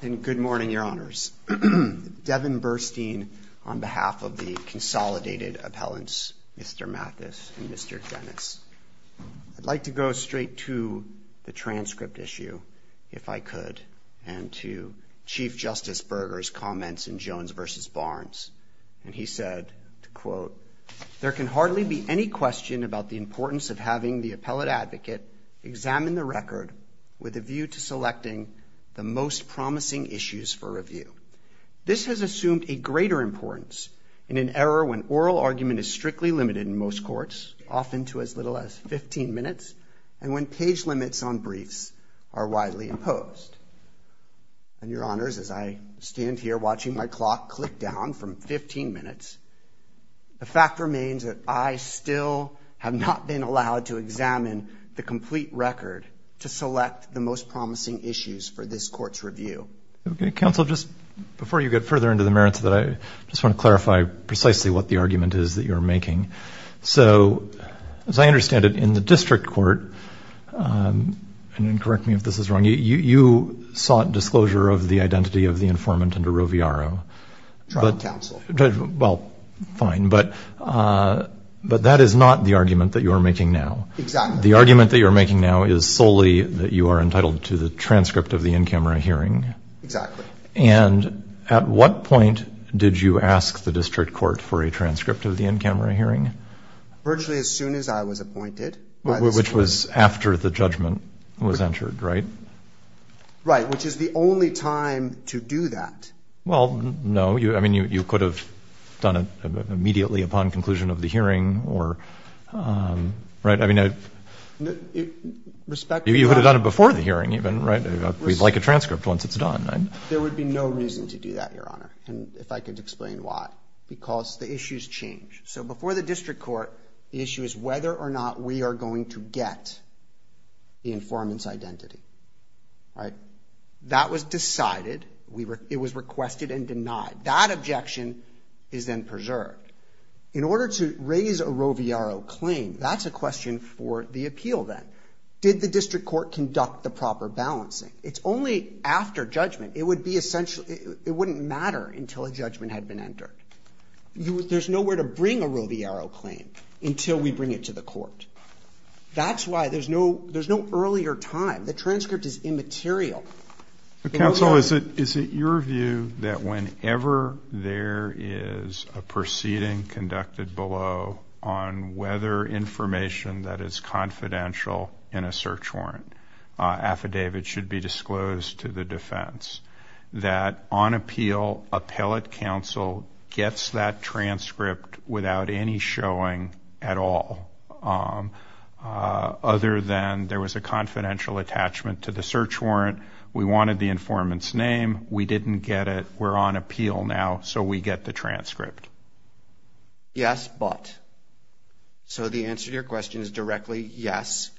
Good morning, Your Honors. Devon Burstein on behalf of the Consolidated Appellants Mr. Mathis and Mr. Dennis. I'd like to go straight to the transcript issue, if I could, and to Chief Justice Berger's comments in Jones v. Barnes. And he said, to quote, There can hardly be any question about the importance of having the appellate advocate examine the record with a view to selecting the most promising issues for review. This has assumed a greater importance in an era when oral argument is strictly limited in most courts, often to as little as 15 minutes, and when page limits on briefs are widely imposed. And, Your Honors, as I stand here watching my clock click down from 15 minutes, the fact remains that I still have not been allowed to examine the complete record to select the most promising issues for this court's review. Okay, counsel, just before you get further into the merits of that, I just want to clarify precisely what the argument is that you're making. So, as I understand it, in the district court, and then correct me if this is wrong, you sought disclosure of the identity of the informant under Roviaro. Well, fine, but that is not the argument that you are making now. The argument that you're making now is solely that you are entitled to the transcript of the in-camera hearing. And at what point did you ask the district court for a transcript of the in-camera hearing? Virtually as soon as I was appointed. Which was after the judgment was entered, right? Right, which is the only time to do that. Well, no, I mean, you could have done it immediately upon conclusion of the hearing, or, right? I mean, you could have done it before the hearing even, right? We'd like a transcript once it's done. There would be no reason to do that, Your Honor, if I could explain why. Because the issues change. So before the district court, the issue is whether or not we are going to get the informant's identity, right? That was decided. It was requested and denied. That objection is then preserved. In order to raise a Roviaro claim, that's a question for the appeal then. Did the district court conduct the proper balancing? It's only after judgment. It wouldn't matter until a judgment had been entered. There's nowhere to bring a Roviaro claim until we bring it to the court. That's why there's no earlier time. The transcript is immaterial. Counsel, is it your view that whenever there is a proceeding conducted below on whether information that is confidential in a search warrant affidavit should be disclosed to the appellate counsel gets that transcript without any showing at all? Other than there was a confidential attachment to the search warrant. We wanted the informant's name. We didn't get it. We're on appeal now. So we get the transcript. Yes, but. So the answer to your question is directly yes.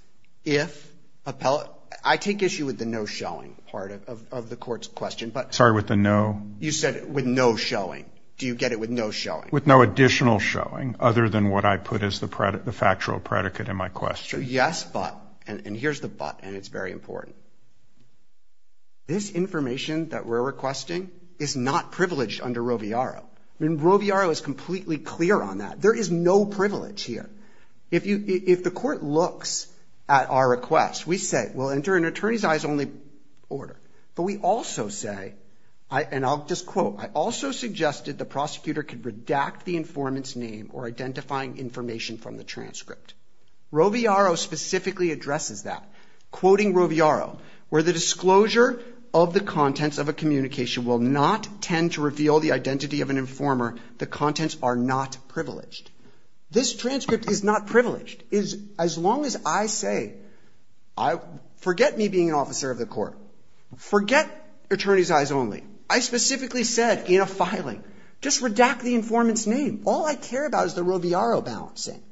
If appellate. I take issue with the no showing part of the court's question. Sorry, with the no? You said with no showing. Do you get it with no showing? With no additional showing other than what I put as the factual predicate in my question. Yes, but. And here's the but, and it's very important. This information that we're requesting is not privileged under Roviaro. Roviaro is completely clear on that. There is no privilege here. If the court looks at our request, we say, well, enter an attorney's eyes only order. But we also say, and I'll just quote, I also suggested the prosecutor could redact the informant's name or identifying information from the transcript. Roviaro specifically addresses that. Quoting Roviaro, where the disclosure of the contents of a communication will not tend to reveal the identity of an I say, forget me being an officer of the court. Forget attorney's eyes only. I specifically said in a filing, just redact the informant's name. All I care about is the Roviaro balancing.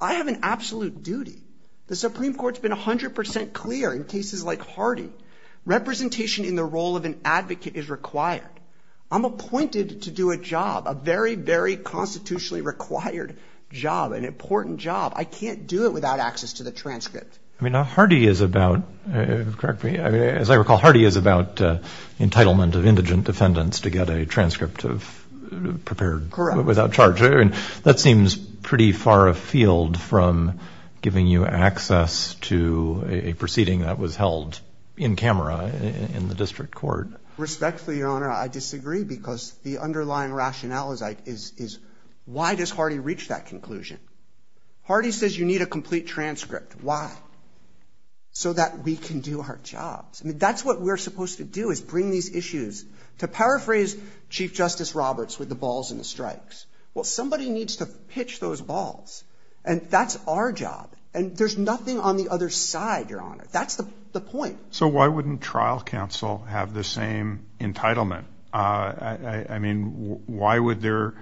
I have an absolute duty. The Supreme Court's been 100% clear in cases like Hardy. Representation in the role of an advocate is required. I'm appointed to do a job, a very, very constitutionally required job, an important job. I can't do it without access to the transcript. I mean, now Hardy is about, correct me, as I recall, Hardy is about entitlement of indigent defendants to get a transcript of prepared without charge. That seems pretty far afield from giving you access to a proceeding that was held in camera in the district court. Respectfully, Your Honor, I disagree because the underlying rationale is why does Hardy reach that conclusion? Hardy says you need a complete transcript. Why? So that we can do our jobs. I mean, that's what we're supposed to do is bring these issues. To paraphrase Chief Justice Roberts with the balls and the strikes. Well, somebody needs to pitch those balls and that's our job. And there's nothing on the other side, Your Honor. That's the point. So why wouldn't trial counsel have the same entitlement? I mean, why would there,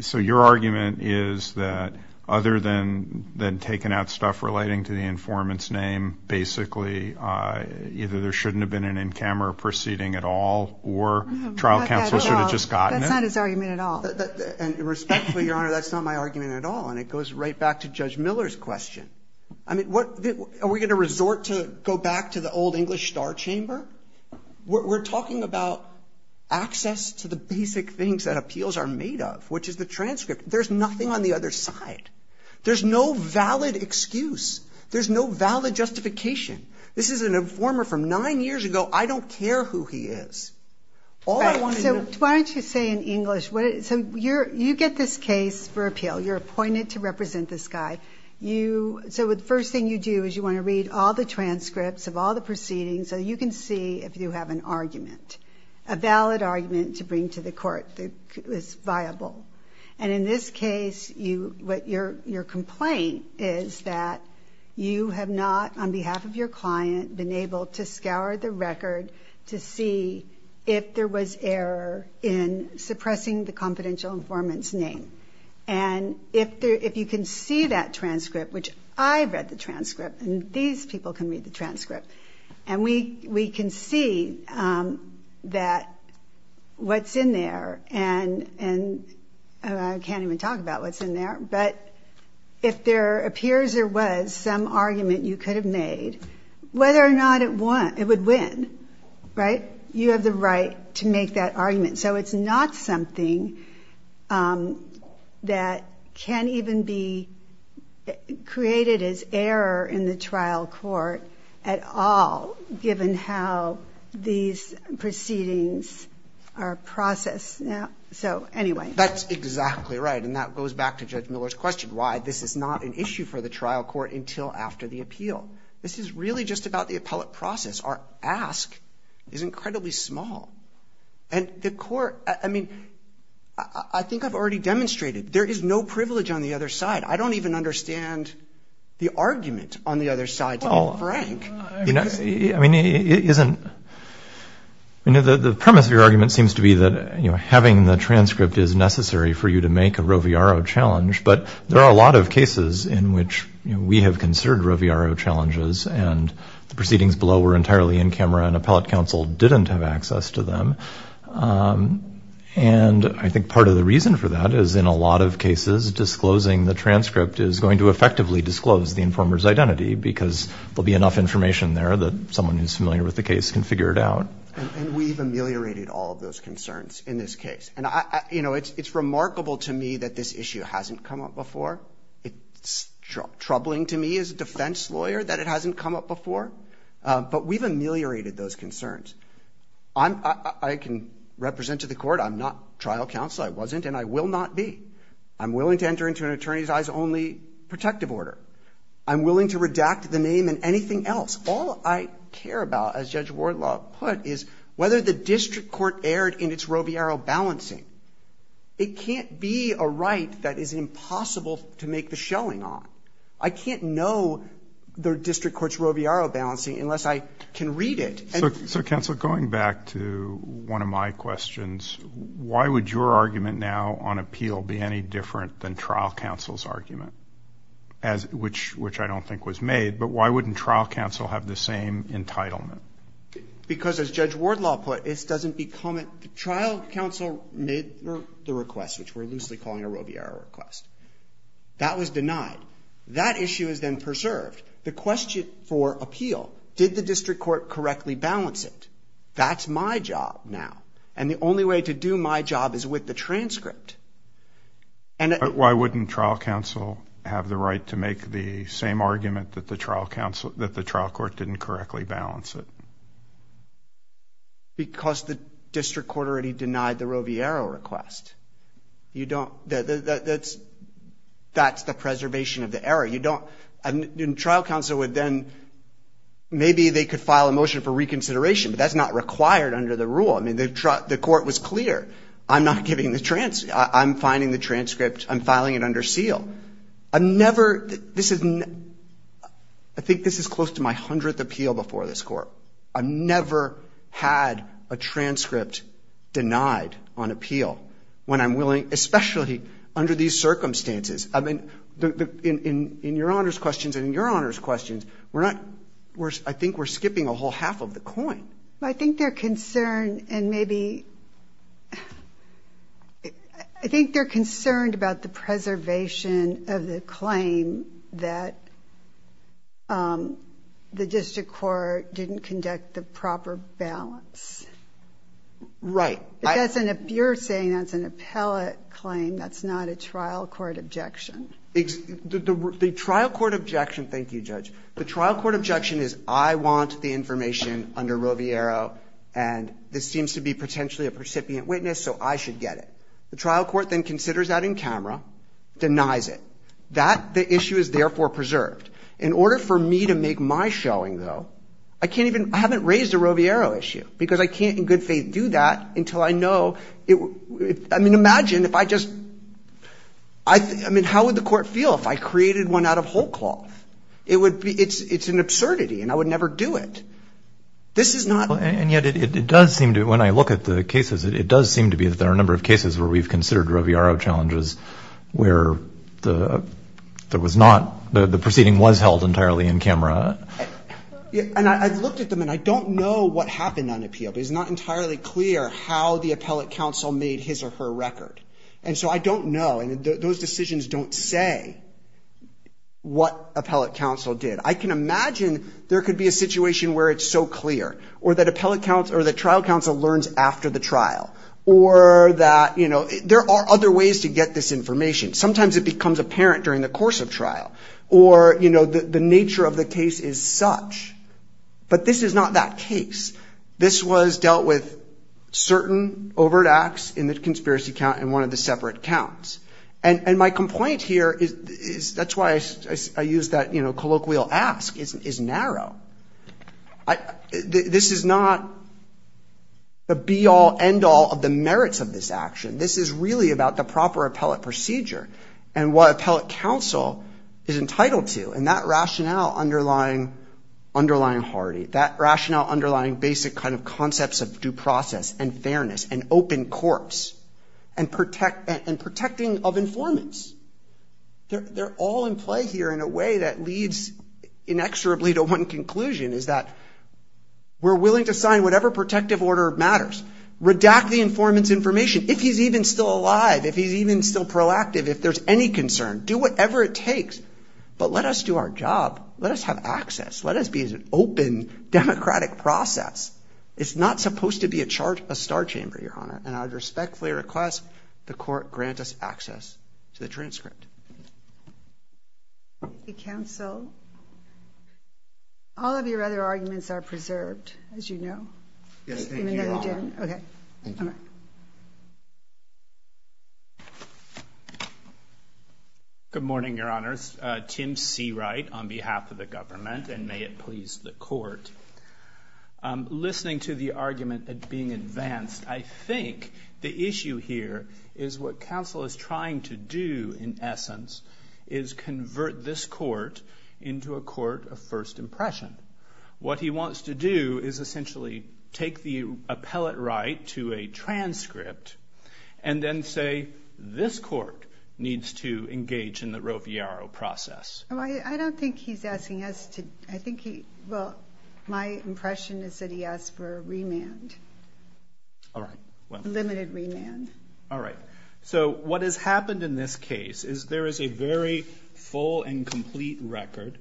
so your argument is that other than taking out stuff relating to the informant's name, basically either there shouldn't have been an in-camera proceeding at all or trial counsel should have just gotten it. That's not his argument at all. And respectfully, Your Honor, that's not my argument at all. And it goes right back to the old English star chamber. We're talking about access to the basic things that appeals are made of, which is the transcript. There's nothing on the other side. There's no valid excuse. There's no valid justification. This is an informer from nine years ago. I don't care who he is. All I want to know... So why don't you say in English, so you get this case for appeal. You're appointed to the proceedings so you can see if you have an argument, a valid argument to bring to the court that is viable. And in this case, your complaint is that you have not, on behalf of your client, been able to scour the record to see if there was error in suppressing the confidential informant's name. And if you can see that transcript, which I've read the transcript and these people can read the transcript, and we can see that what's in there, and I can't even talk about what's in there, but if there appears there was some argument you could have made, whether or not it would win, right? You have the right to make that argument. So it's not something that can even be created as error in the trial court at all, given how these proceedings are processed. So anyway... That's exactly right. And that goes back to Judge Miller's question, why this is not an issue for the trial court until after the appeal. This is really just about the appellate process. Our ask is incredibly small. And the court, I mean, I think I've already demonstrated there is no privilege on the other side. I don't even understand the argument on the other side, to be frank. I mean, it isn't... The premise of your argument seems to be that having the transcript is necessary for you to make a Roviaro challenge, but there are a lot of cases in which we have considered Roviaro challenges, and the proceedings below were entirely in camera and appellate counsel didn't have access to them. And I think part of the reason for that is in a lot of cases, disclosing the transcript is going to effectively disclose the informer's identity because there'll be enough information there that someone who's familiar with the case can figure it out. And we've ameliorated all of those concerns in this case. And it's remarkable to me that this issue hasn't come up before. It's troubling to me as a defense lawyer that it hasn't come up before. But we've ameliorated those concerns. I'm... I can represent to the court, I'm not trial counsel, I wasn't, and I will not be. I'm willing to enter into an attorney's eyes-only protective order. I'm willing to redact the name and anything else. All I care about, as Judge Wardlaw put, is whether the district court erred in its Roviaro balancing. It can't be a right that is impossible to make the shelling on. I can't know the district court's Roviaro balancing unless I can read it. And... So, counsel, going back to one of my questions, why would your argument now on appeal be any different than trial counsel's argument, as which I don't think was made, but why wouldn't trial counsel have the same entitlement? Because, as Judge Wardlaw put, it doesn't become a... Trial counsel made the request, which we're loosely calling a Roviaro request. That was denied. That issue is then preserved. The question for appeal, did the district court correctly balance it? That's my job now. And the only way to do my job is with the transcript. And... Why wouldn't trial counsel have the right to make the same argument that the trial counsel... That the trial court didn't correctly balance it? Because the district court already denied the Roviaro request. You don't... That's... That's the preservation of the error. You don't... And trial counsel would then... Maybe they could file a motion for reconsideration, but that's not required under the rule. I mean, the court was clear. I'm not giving the transcript. I'm finding the transcript. I'm filing it under seal. I never... This is... I think this is close to my hundredth appeal before this court. I've never had a transcript denied on appeal when I'm willing... Especially under these circumstances. I mean, in your Honor's questions and in your Honor's questions, we're not... I think we're skipping a whole half of the coin. I think they're concerned and maybe... I think they're concerned about the preservation of the claim that the district court didn't conduct the proper balance. Right. Because if you're saying that's an appellate claim, that's not a trial court objection. The trial court objection... Thank you, Judge. The trial court objection is I want the information under Roviaro and this seems to be potentially a recipient witness, so I should get it. The trial court then considers that in camera, denies it. That, the issue is therefore preserved. In order for me to make my showing, though, I can't even... I haven't raised a Roviaro issue because I can't in good faith do that until I know... I mean, imagine if I just... I mean, how would the court feel if I created one out of whole cloth? It would be... It's an absurdity and I would never do it. This is not... And yet, it does seem to... When I look at the cases, it does seem to be that there are a number of cases where we've considered Roviaro challenges where there was not... The proceeding was held entirely in camera. And I've looked at them and I don't know what happened on appeal, but it's not entirely clear how the appellate counsel made his or her record. And so I don't know and those decisions don't say what appellate counsel did. I can imagine there could be a situation where it's so clear or that appellate counsel or the trial counsel learns after the trial or that, you know, there are other ways to get this information. Sometimes it becomes apparent during the course of trial or, you know, the nature of the case is such. But this is not that case. This was dealt with certain overt acts in the conspiracy count and one of the separate counts. And my complaint here is... That's why I used that, you know, colloquial ask is narrow. This is not the be-all, end-all of the merits of this action. This is really about the proper appellate procedure and what appellate counsel is entitled to and that rationale underlying Hardy, that rationale underlying basic kind of concepts of due process and fairness and open courts and protecting of informants. They're all in play here in a way that leads inexorably to one conclusion is that we're willing to sign whatever protective order matters, redact the informant's information, if he's even still alive, if he's even still proactive, if there's any concern, do whatever it takes. But let us do our job. Let us have access. Let us be as an open democratic process. It's not supposed to be a star chamber, Your Honor. And I respectfully request the court grant us access to the transcript. The counsel... All of your other arguments are preserved, as you know. Yes, thank you, Your Honor. Okay. Thank you. Good morning, Your Honors. Tim Seawright on behalf of the government and may it please the court. Listening to the argument being advanced, I think the issue here is what counsel is trying to do, in essence, is convert this court into a court of first impression. What he wants to do is essentially take the appellate right to a transcript and then say, this court needs to engage in the Roviaro process. I don't think he's asking us to... I think he... Well, my impression is that he asked for a remand. All right. Limited remand. All right. So what has happened in this case is there is a very full and complete record.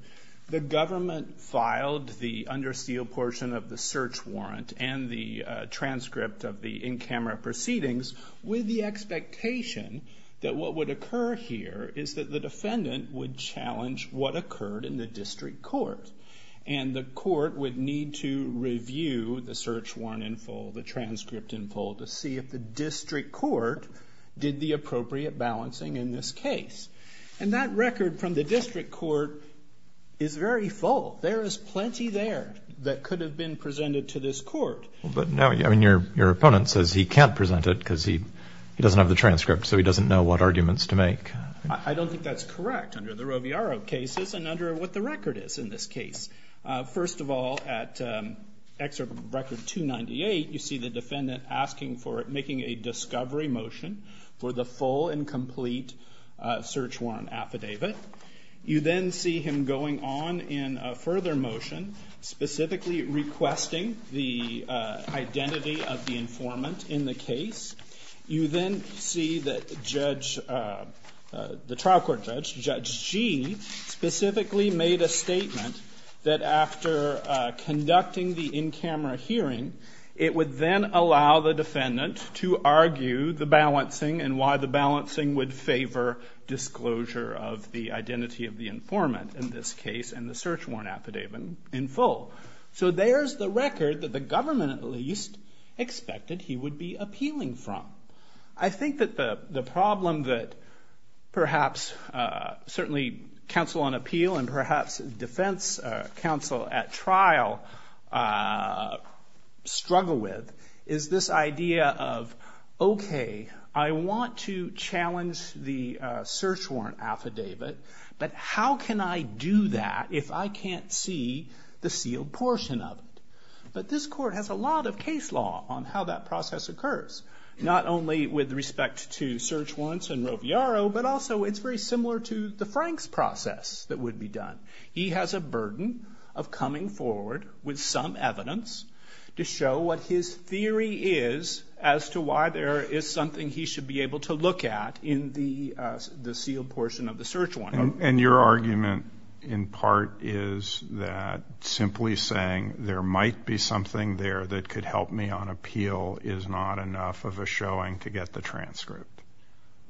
The government filed the under seal portion of the search warrant and the transcript of the in-camera proceedings with the expectation that what would occur here is that the defendant would challenge what occurred in the district court. And the court would need to review the search warrant in full, the transcript in full, to see if the district court did the appropriate balancing in this case. And that record from the district court is very full. There is plenty there that could have been presented to this court. But now, I mean, your opponent says he can't present it because he doesn't have the transcript. I don't think that's correct under the Roviaro cases and under what the record is in this case. First of all, at Excerpt Record 298, you see the defendant asking for... Making a discovery motion for the full and complete search warrant affidavit. You then see him going on in a further motion, specifically requesting the identity of the informant in the case. You then see that Judge... The trial court judge, Judge Gee, specifically made a statement that after conducting the in-camera hearing, it would then allow the defendant to argue the balancing and why the balancing would favor disclosure of the identity of the informant in this case and the search warrant affidavit in full. So there's the record that the government at least expected he would be appealing from. I think that the problem that perhaps certainly counsel on appeal and perhaps defense counsel at trial struggle with is this idea of, okay, I want to challenge the search warrant affidavit, but how can I do that if I can't see the sealed portion of it? But this court has a lot of case law on how that process occurs, not only with respect to search warrants and Roviaro, but also it's very similar to the Franks process that would be done. He has a burden of coming forward with some evidence to show what his theory is as to why there is something he should be able to look at in the sealed portion of the search warrant. And your argument in part is that simply saying there might be something there that could help me on appeal is not enough of a showing to get the transcript.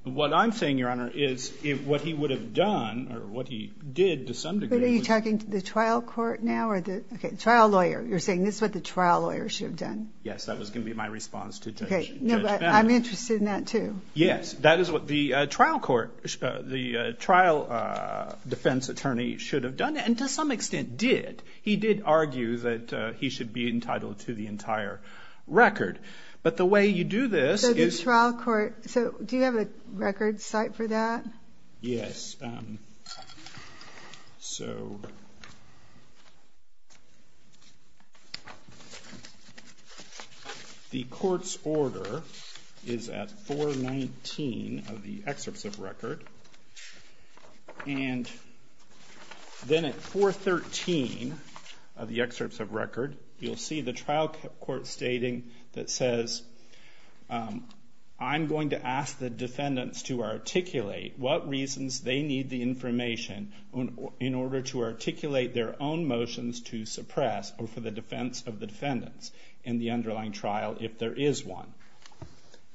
What I'm saying, Your Honor, is what he would have done or what he did to some degree. But are you talking to the trial court now or the trial lawyer? You're saying this is what the trial lawyer should have done? Yes, that was going to be my response to Judge Bennett. Okay, but I'm interested in that too. Yes, that is what the trial defense attorney should have done. And to some extent did. He did argue that he should be entitled to the entire record. But the way you do this is... So the trial court, do you have a record site for that? Yes. So... The court's order is at 419 of the excerpts of record. And then at 413 of the excerpts of record, you'll see the trial court stating that says, I'm going to ask the defendants to articulate what reasons they need the information in order to articulate their own motions to suppress or for the defendants in the underlying trial if there is one.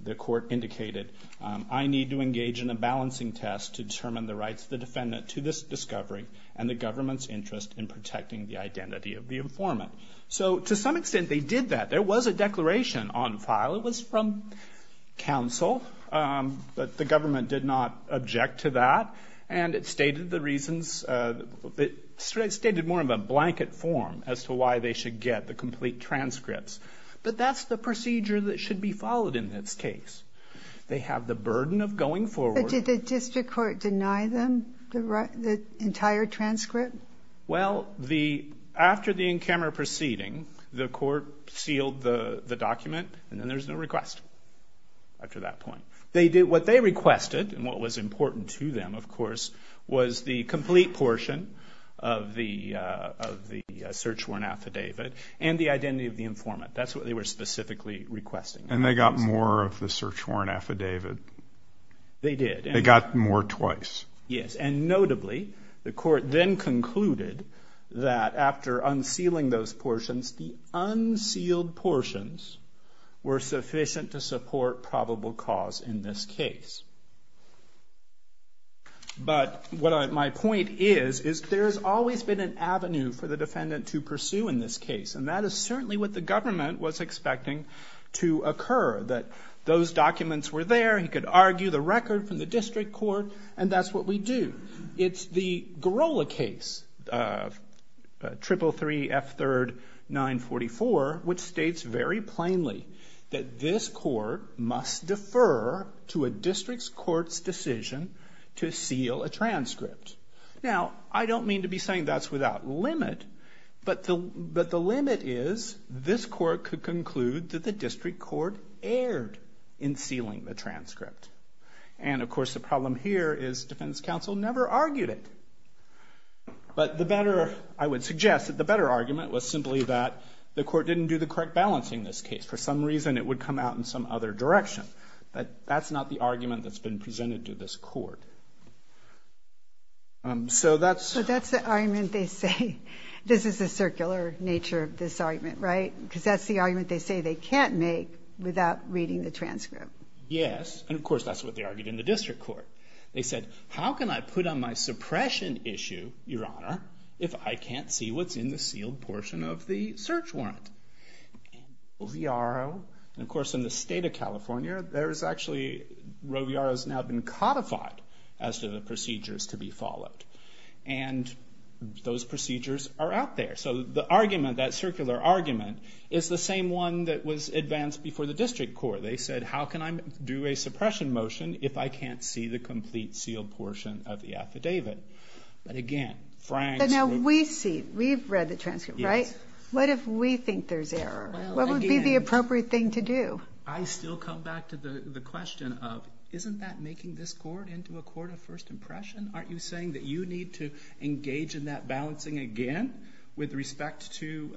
The court indicated, I need to engage in a balancing test to determine the rights of the defendant to this discovery and the government's interest in protecting the identity of the informant. So to some extent they did that. There was a declaration on file. It was from counsel. But the government did not object to that. And it stated the reasons... It stated more of a blanket form as to why they should get the complete transcripts. But that's the procedure that should be followed in this case. They have the burden of going forward... But did the district court deny them the entire transcript? Well, after the in-camera proceeding, the court sealed the document and then there's no request after that point. They did what they requested and what was important to them, of course, was the complete portion of the search warrant affidavit and the identity of the informant. That's what they were specifically requesting. And they got more of the search warrant affidavit? They did. They got more twice? Yes. And notably, the court then concluded that after unsealing those portions, the unsealed portions were sufficient to support probable cause in this case. But what my point is, is there's always been an avenue for the court to pursue in this case. And that is certainly what the government was expecting to occur. That those documents were there, he could argue the record from the district court, and that's what we do. It's the Girola case, 333 F. 3rd 944, which states very plainly that this court must defer to a district court's decision to seal a transcript. Now, I don't mean to be without limit, but the limit is this court could conclude that the district court erred in sealing the transcript. And of course, the problem here is defense counsel never argued it. But the better, I would suggest that the better argument was simply that the court didn't do the correct balance in this case. For some reason, it would come out in some other direction. But that's not the argument that's been presented to this court. So that's the argument they say. This is the circular nature of this argument, right? Because that's the argument they say they can't make without reading the transcript. Yes, and of course, that's what they argued in the district court. They said, how can I put on my suppression issue, your honor, if I can't see what's in the sealed portion of the search warrant? Roviaro, and of course, in the state of California, Roviaro has now been codified as to the procedures to be followed. And those procedures are out there. So the argument, that circular argument, is the same one that was advanced before the district court. They said, how can I do a suppression motion if I can't see the complete sealed portion of the affidavit? But again, Frank's... But now we see, we've read the transcript, right? What if we think there's error? What would be the appropriate thing to do? I still come back to the question of, isn't that making this court into a court of first impression? Aren't you saying that you need to engage in that balancing again with respect to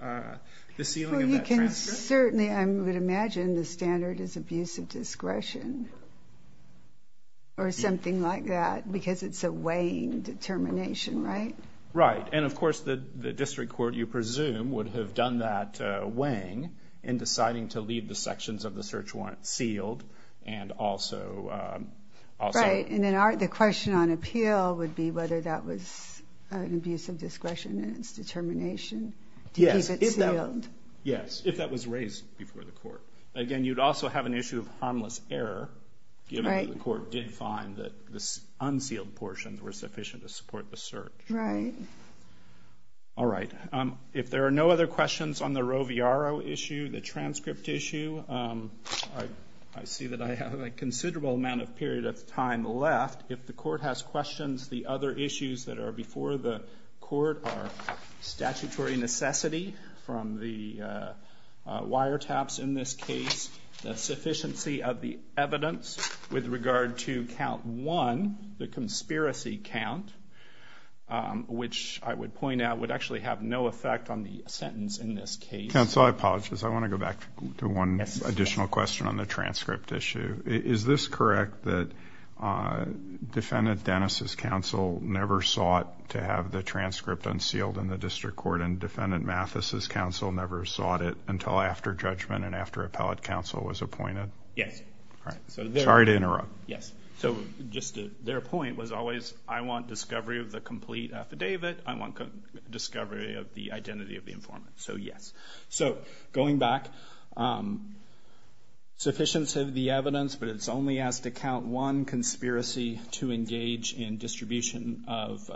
the sealing of that transcript? Well, you can certainly... I would imagine the standard is abuse of discretion or something like that because it's a weighing determination, right? Right. And of course, the district court, you presume, would have done that if the search warrant sealed and also... Right. And then the question on appeal would be whether that was an abuse of discretion in its determination to keep it sealed. Yes. If that was raised before the court. Again, you'd also have an issue of harmless error given that the court did find that this unsealed portion was sufficient to support the search. Right. All right. If there are no other questions on the Roviaro issue, the I see that I have a considerable amount of period of time left. If the court has questions, the other issues that are before the court are statutory necessity from the wiretaps in this case, the sufficiency of the evidence with regard to count one, the conspiracy count, which I would point out would actually have no effect on the sentence in this case. Counsel, I apologize. I want to go back to one additional question on the transcript issue. Is this correct that Defendant Dennis' counsel never sought to have the transcript unsealed in the district court and Defendant Mathis' counsel never sought it until after judgment and after appellate counsel was appointed? Yes. Sorry to interrupt. Yes. So just their point was always, I want discovery of the complete affidavit. I want discovery of the identity of the informant. So yes. So going back, sufficiency of the evidence, but it's only as to count one, conspiracy to engage in distribution of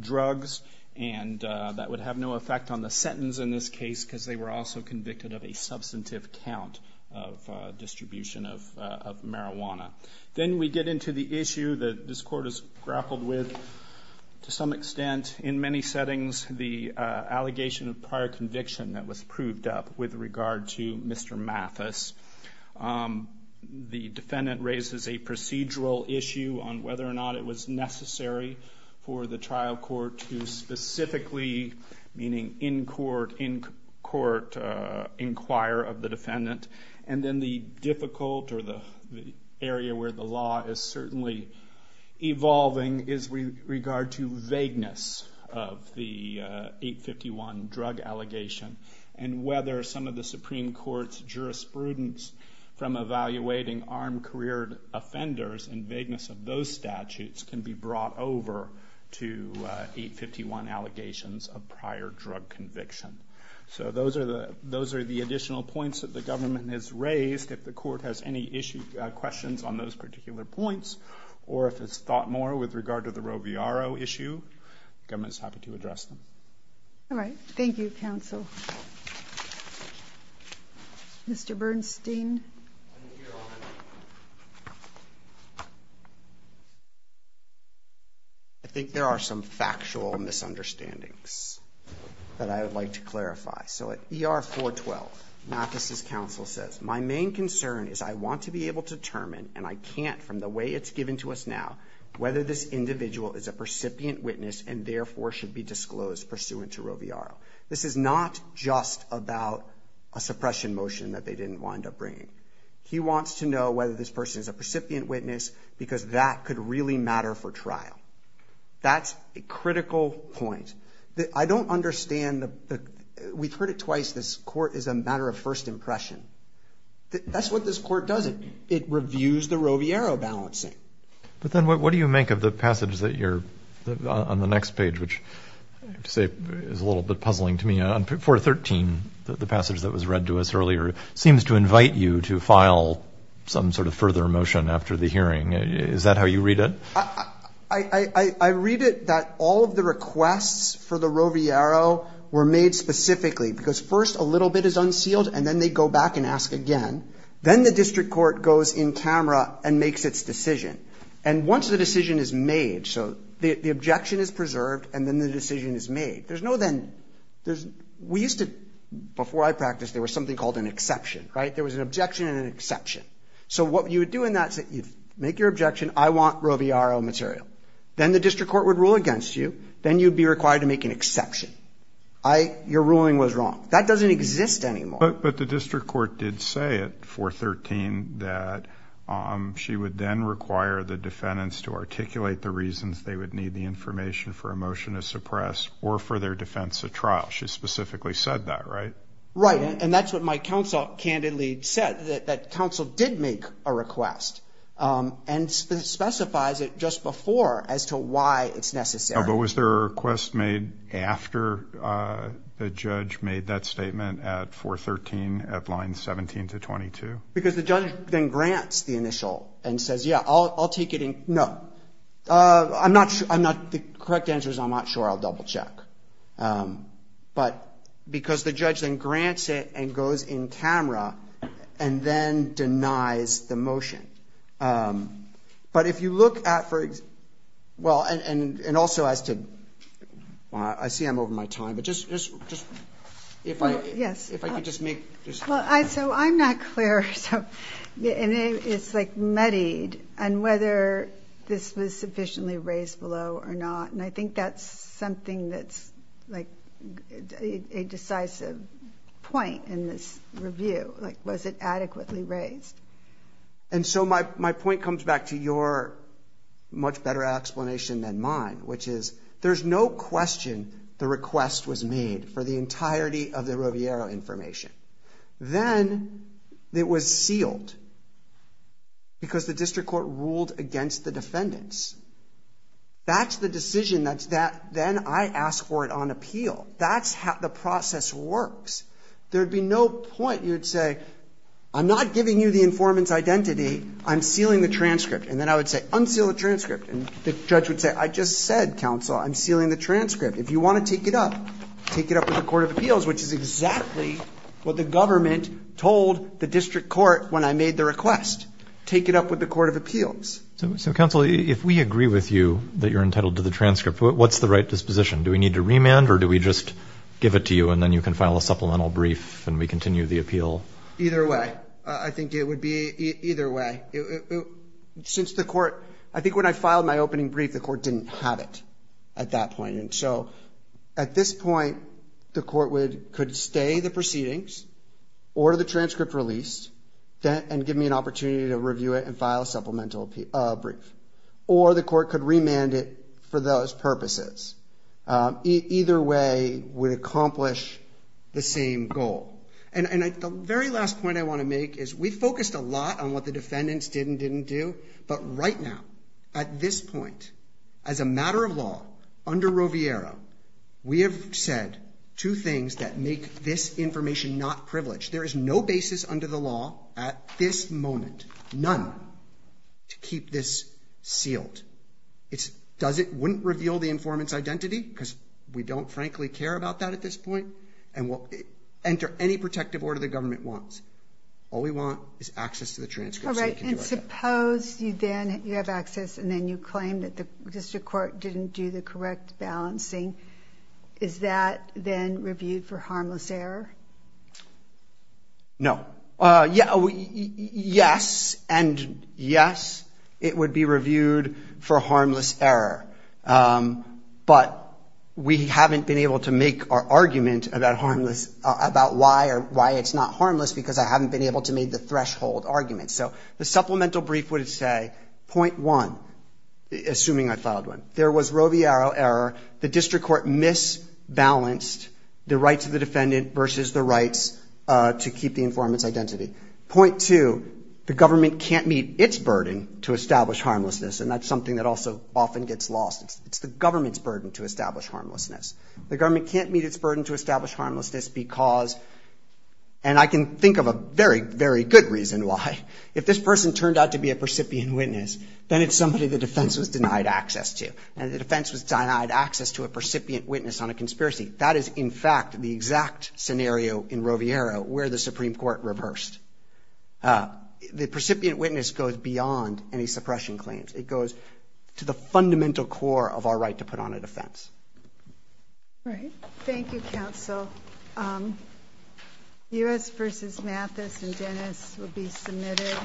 drugs, and that would have no effect on the sentence in this case because they were also convicted of a substantive count of distribution of marijuana. Then we get into the issue that this court has grappled with to some extent in many settings the allegation of prior conviction that was proved up with regard to Mr. Mathis. The defendant raises a procedural issue on whether or not it was necessary for the trial court to specifically, meaning in court, in court inquire of the defendant. And then the difficult or the area where the law is certainly evolving is with regard to vagueness of the 851 drug allegation and whether some of the Supreme Court's jurisprudence from evaluating armed career offenders and vagueness of those statutes can be brought over to 851 allegations of prior drug conviction. So those are the additional points that the government has raised. If the court has any questions on those particular points or if it's thought more with regard to the Roviaro issue, the government is happy to address them. All right. Thank you, counsel. Mr. Bernstein. I think there are some factual misunderstandings that I would like to clarify. So at ER 412, Mathis's counsel says, my main concern is I want to be able to determine, and I can't from the way it's given to us now, whether this individual is a percipient witness and therefore should be disclosed pursuant to Roviaro. This is not just about a suppression motion that they didn't wind up bringing. He wants to know whether this person is a percipient witness because that could really matter for trial. That's a critical point. I don't understand the – we've heard it twice, this court is a matter of first impression. That's what this court does. It reviews the Roviaro balancing. But then what do you make of the passage that you're – on the next page, which I have to say is a little bit puzzling to me. On 413, the passage that was read to us earlier seems to invite you to file some sort of further motion after the hearing. Is that how you read it? I read it that all of the requests for the Roviaro were made specifically because first a little bit is unsealed and then they go back and ask again. Then the district court goes in camera and makes its decision. And once the decision is made, so the objection is preserved and then the decision is made, there's no then – we used to, before I practiced, there was something called an exception, right? There was an objection and an exception. So what you would do in that is that you'd make your objection, I want Roviaro material. Then the district court would rule against you. Then you'd be required to make an exception. Your ruling was wrong. That doesn't exist anymore. But the district court did say at 413 that she would then require the defendants to articulate the reasons they would need the information for a motion to suppress or for their defense of trial. She specifically said that, right? Right. And that's what my counsel candidly said, that counsel did make a request and specifies it just before as to why it's necessary. But was there a request made after the judge made that statement at 413 at line 17-22? Because the judge then grants the initial and says, yeah, I'll take it in – no. I'm not – the correct answer is I'm not sure. I'll double check. But because the judge then grants it and goes in camera and then denies the motion. But if you look at – well, and also as to – I see I'm over my time, but just – if I could just make – Well, so I'm not clear. So it's like muddied on whether this was sufficiently raised below or not, and I think that's something that's like a decisive point in this review. Like was it adequately raised? And so my point comes back to your much better explanation than mine, which is there's no question the request was made for the entirety of the Roviero information. Then it was sealed because the district court ruled against the defendants. That's the decision that's – then I ask for it on appeal. That's how the process works. There would be no point. You would say, I'm not giving you the informant's identity. I'm sealing the transcript. And then I would say, unseal the transcript. And the judge would say, I just said, counsel, I'm sealing the transcript. If you want to take it up, take it up with the court of appeals, which is exactly what the government told the district court when I made the request. Take it up with the court of appeals. So, counsel, if we agree with you that you're entitled to the transcript, what's the right disposition? Do we need to remand or do we just give it to you and then you can file a supplemental brief and we continue the appeal? Either way. I think it would be either way. Since the court – I think when I filed my opening brief, the court didn't have it at that point. And so at this point, the court could stay the proceedings, order the transcript released, and give me an opportunity to review it and file a supplemental brief. Or the court could remand it for those purposes. Either way would accomplish the same goal. And the very last point I want to make is we focused a lot on what the defendants did and didn't do. But right now, at this point, as a matter of law, under Roviero, we have said two things that make this information not privileged. There is no basis under the law at this moment, none, to keep this sealed. It's – does it – wouldn't reveal the informant's identity? Because we don't, frankly, care about that at this point. And we'll enter any protective order the government wants. All we want is access to the transcript so we can do our job. All right. And suppose you then – you have access and then you claim that the district court didn't do the correct balancing. Is that then reviewed for harmless error? No. Yes, and yes, it would be reviewed for harmless error. But we haven't been able to make our argument about harmless – about why or why it's not harmless because I haven't been able to make the threshold argument. So the supplemental brief would say, point one, assuming I filed one, there was Roviero error, the district court misbalanced the rights of the defendant versus the rights to keep the informant's identity. Point two, the government can't meet its burden to establish harmlessness, and that's something that also often gets lost. It's the government's burden to establish harmlessness. The government can't meet its burden to establish harmlessness because – and I can think of a very, very good reason why. If this person turned out to be a percipient witness, then it's somebody the defense was denied access to, and the defense was denied access to a percipient witness on a conspiracy. That is, in fact, the exact scenario in Roviero where the Supreme Court reversed. The percipient witness goes beyond any suppression claims. It goes to the fundamental core of our right to put on a defense. All right. Thank you, counsel. U.S. v. Mathis and Dennis will be submitted.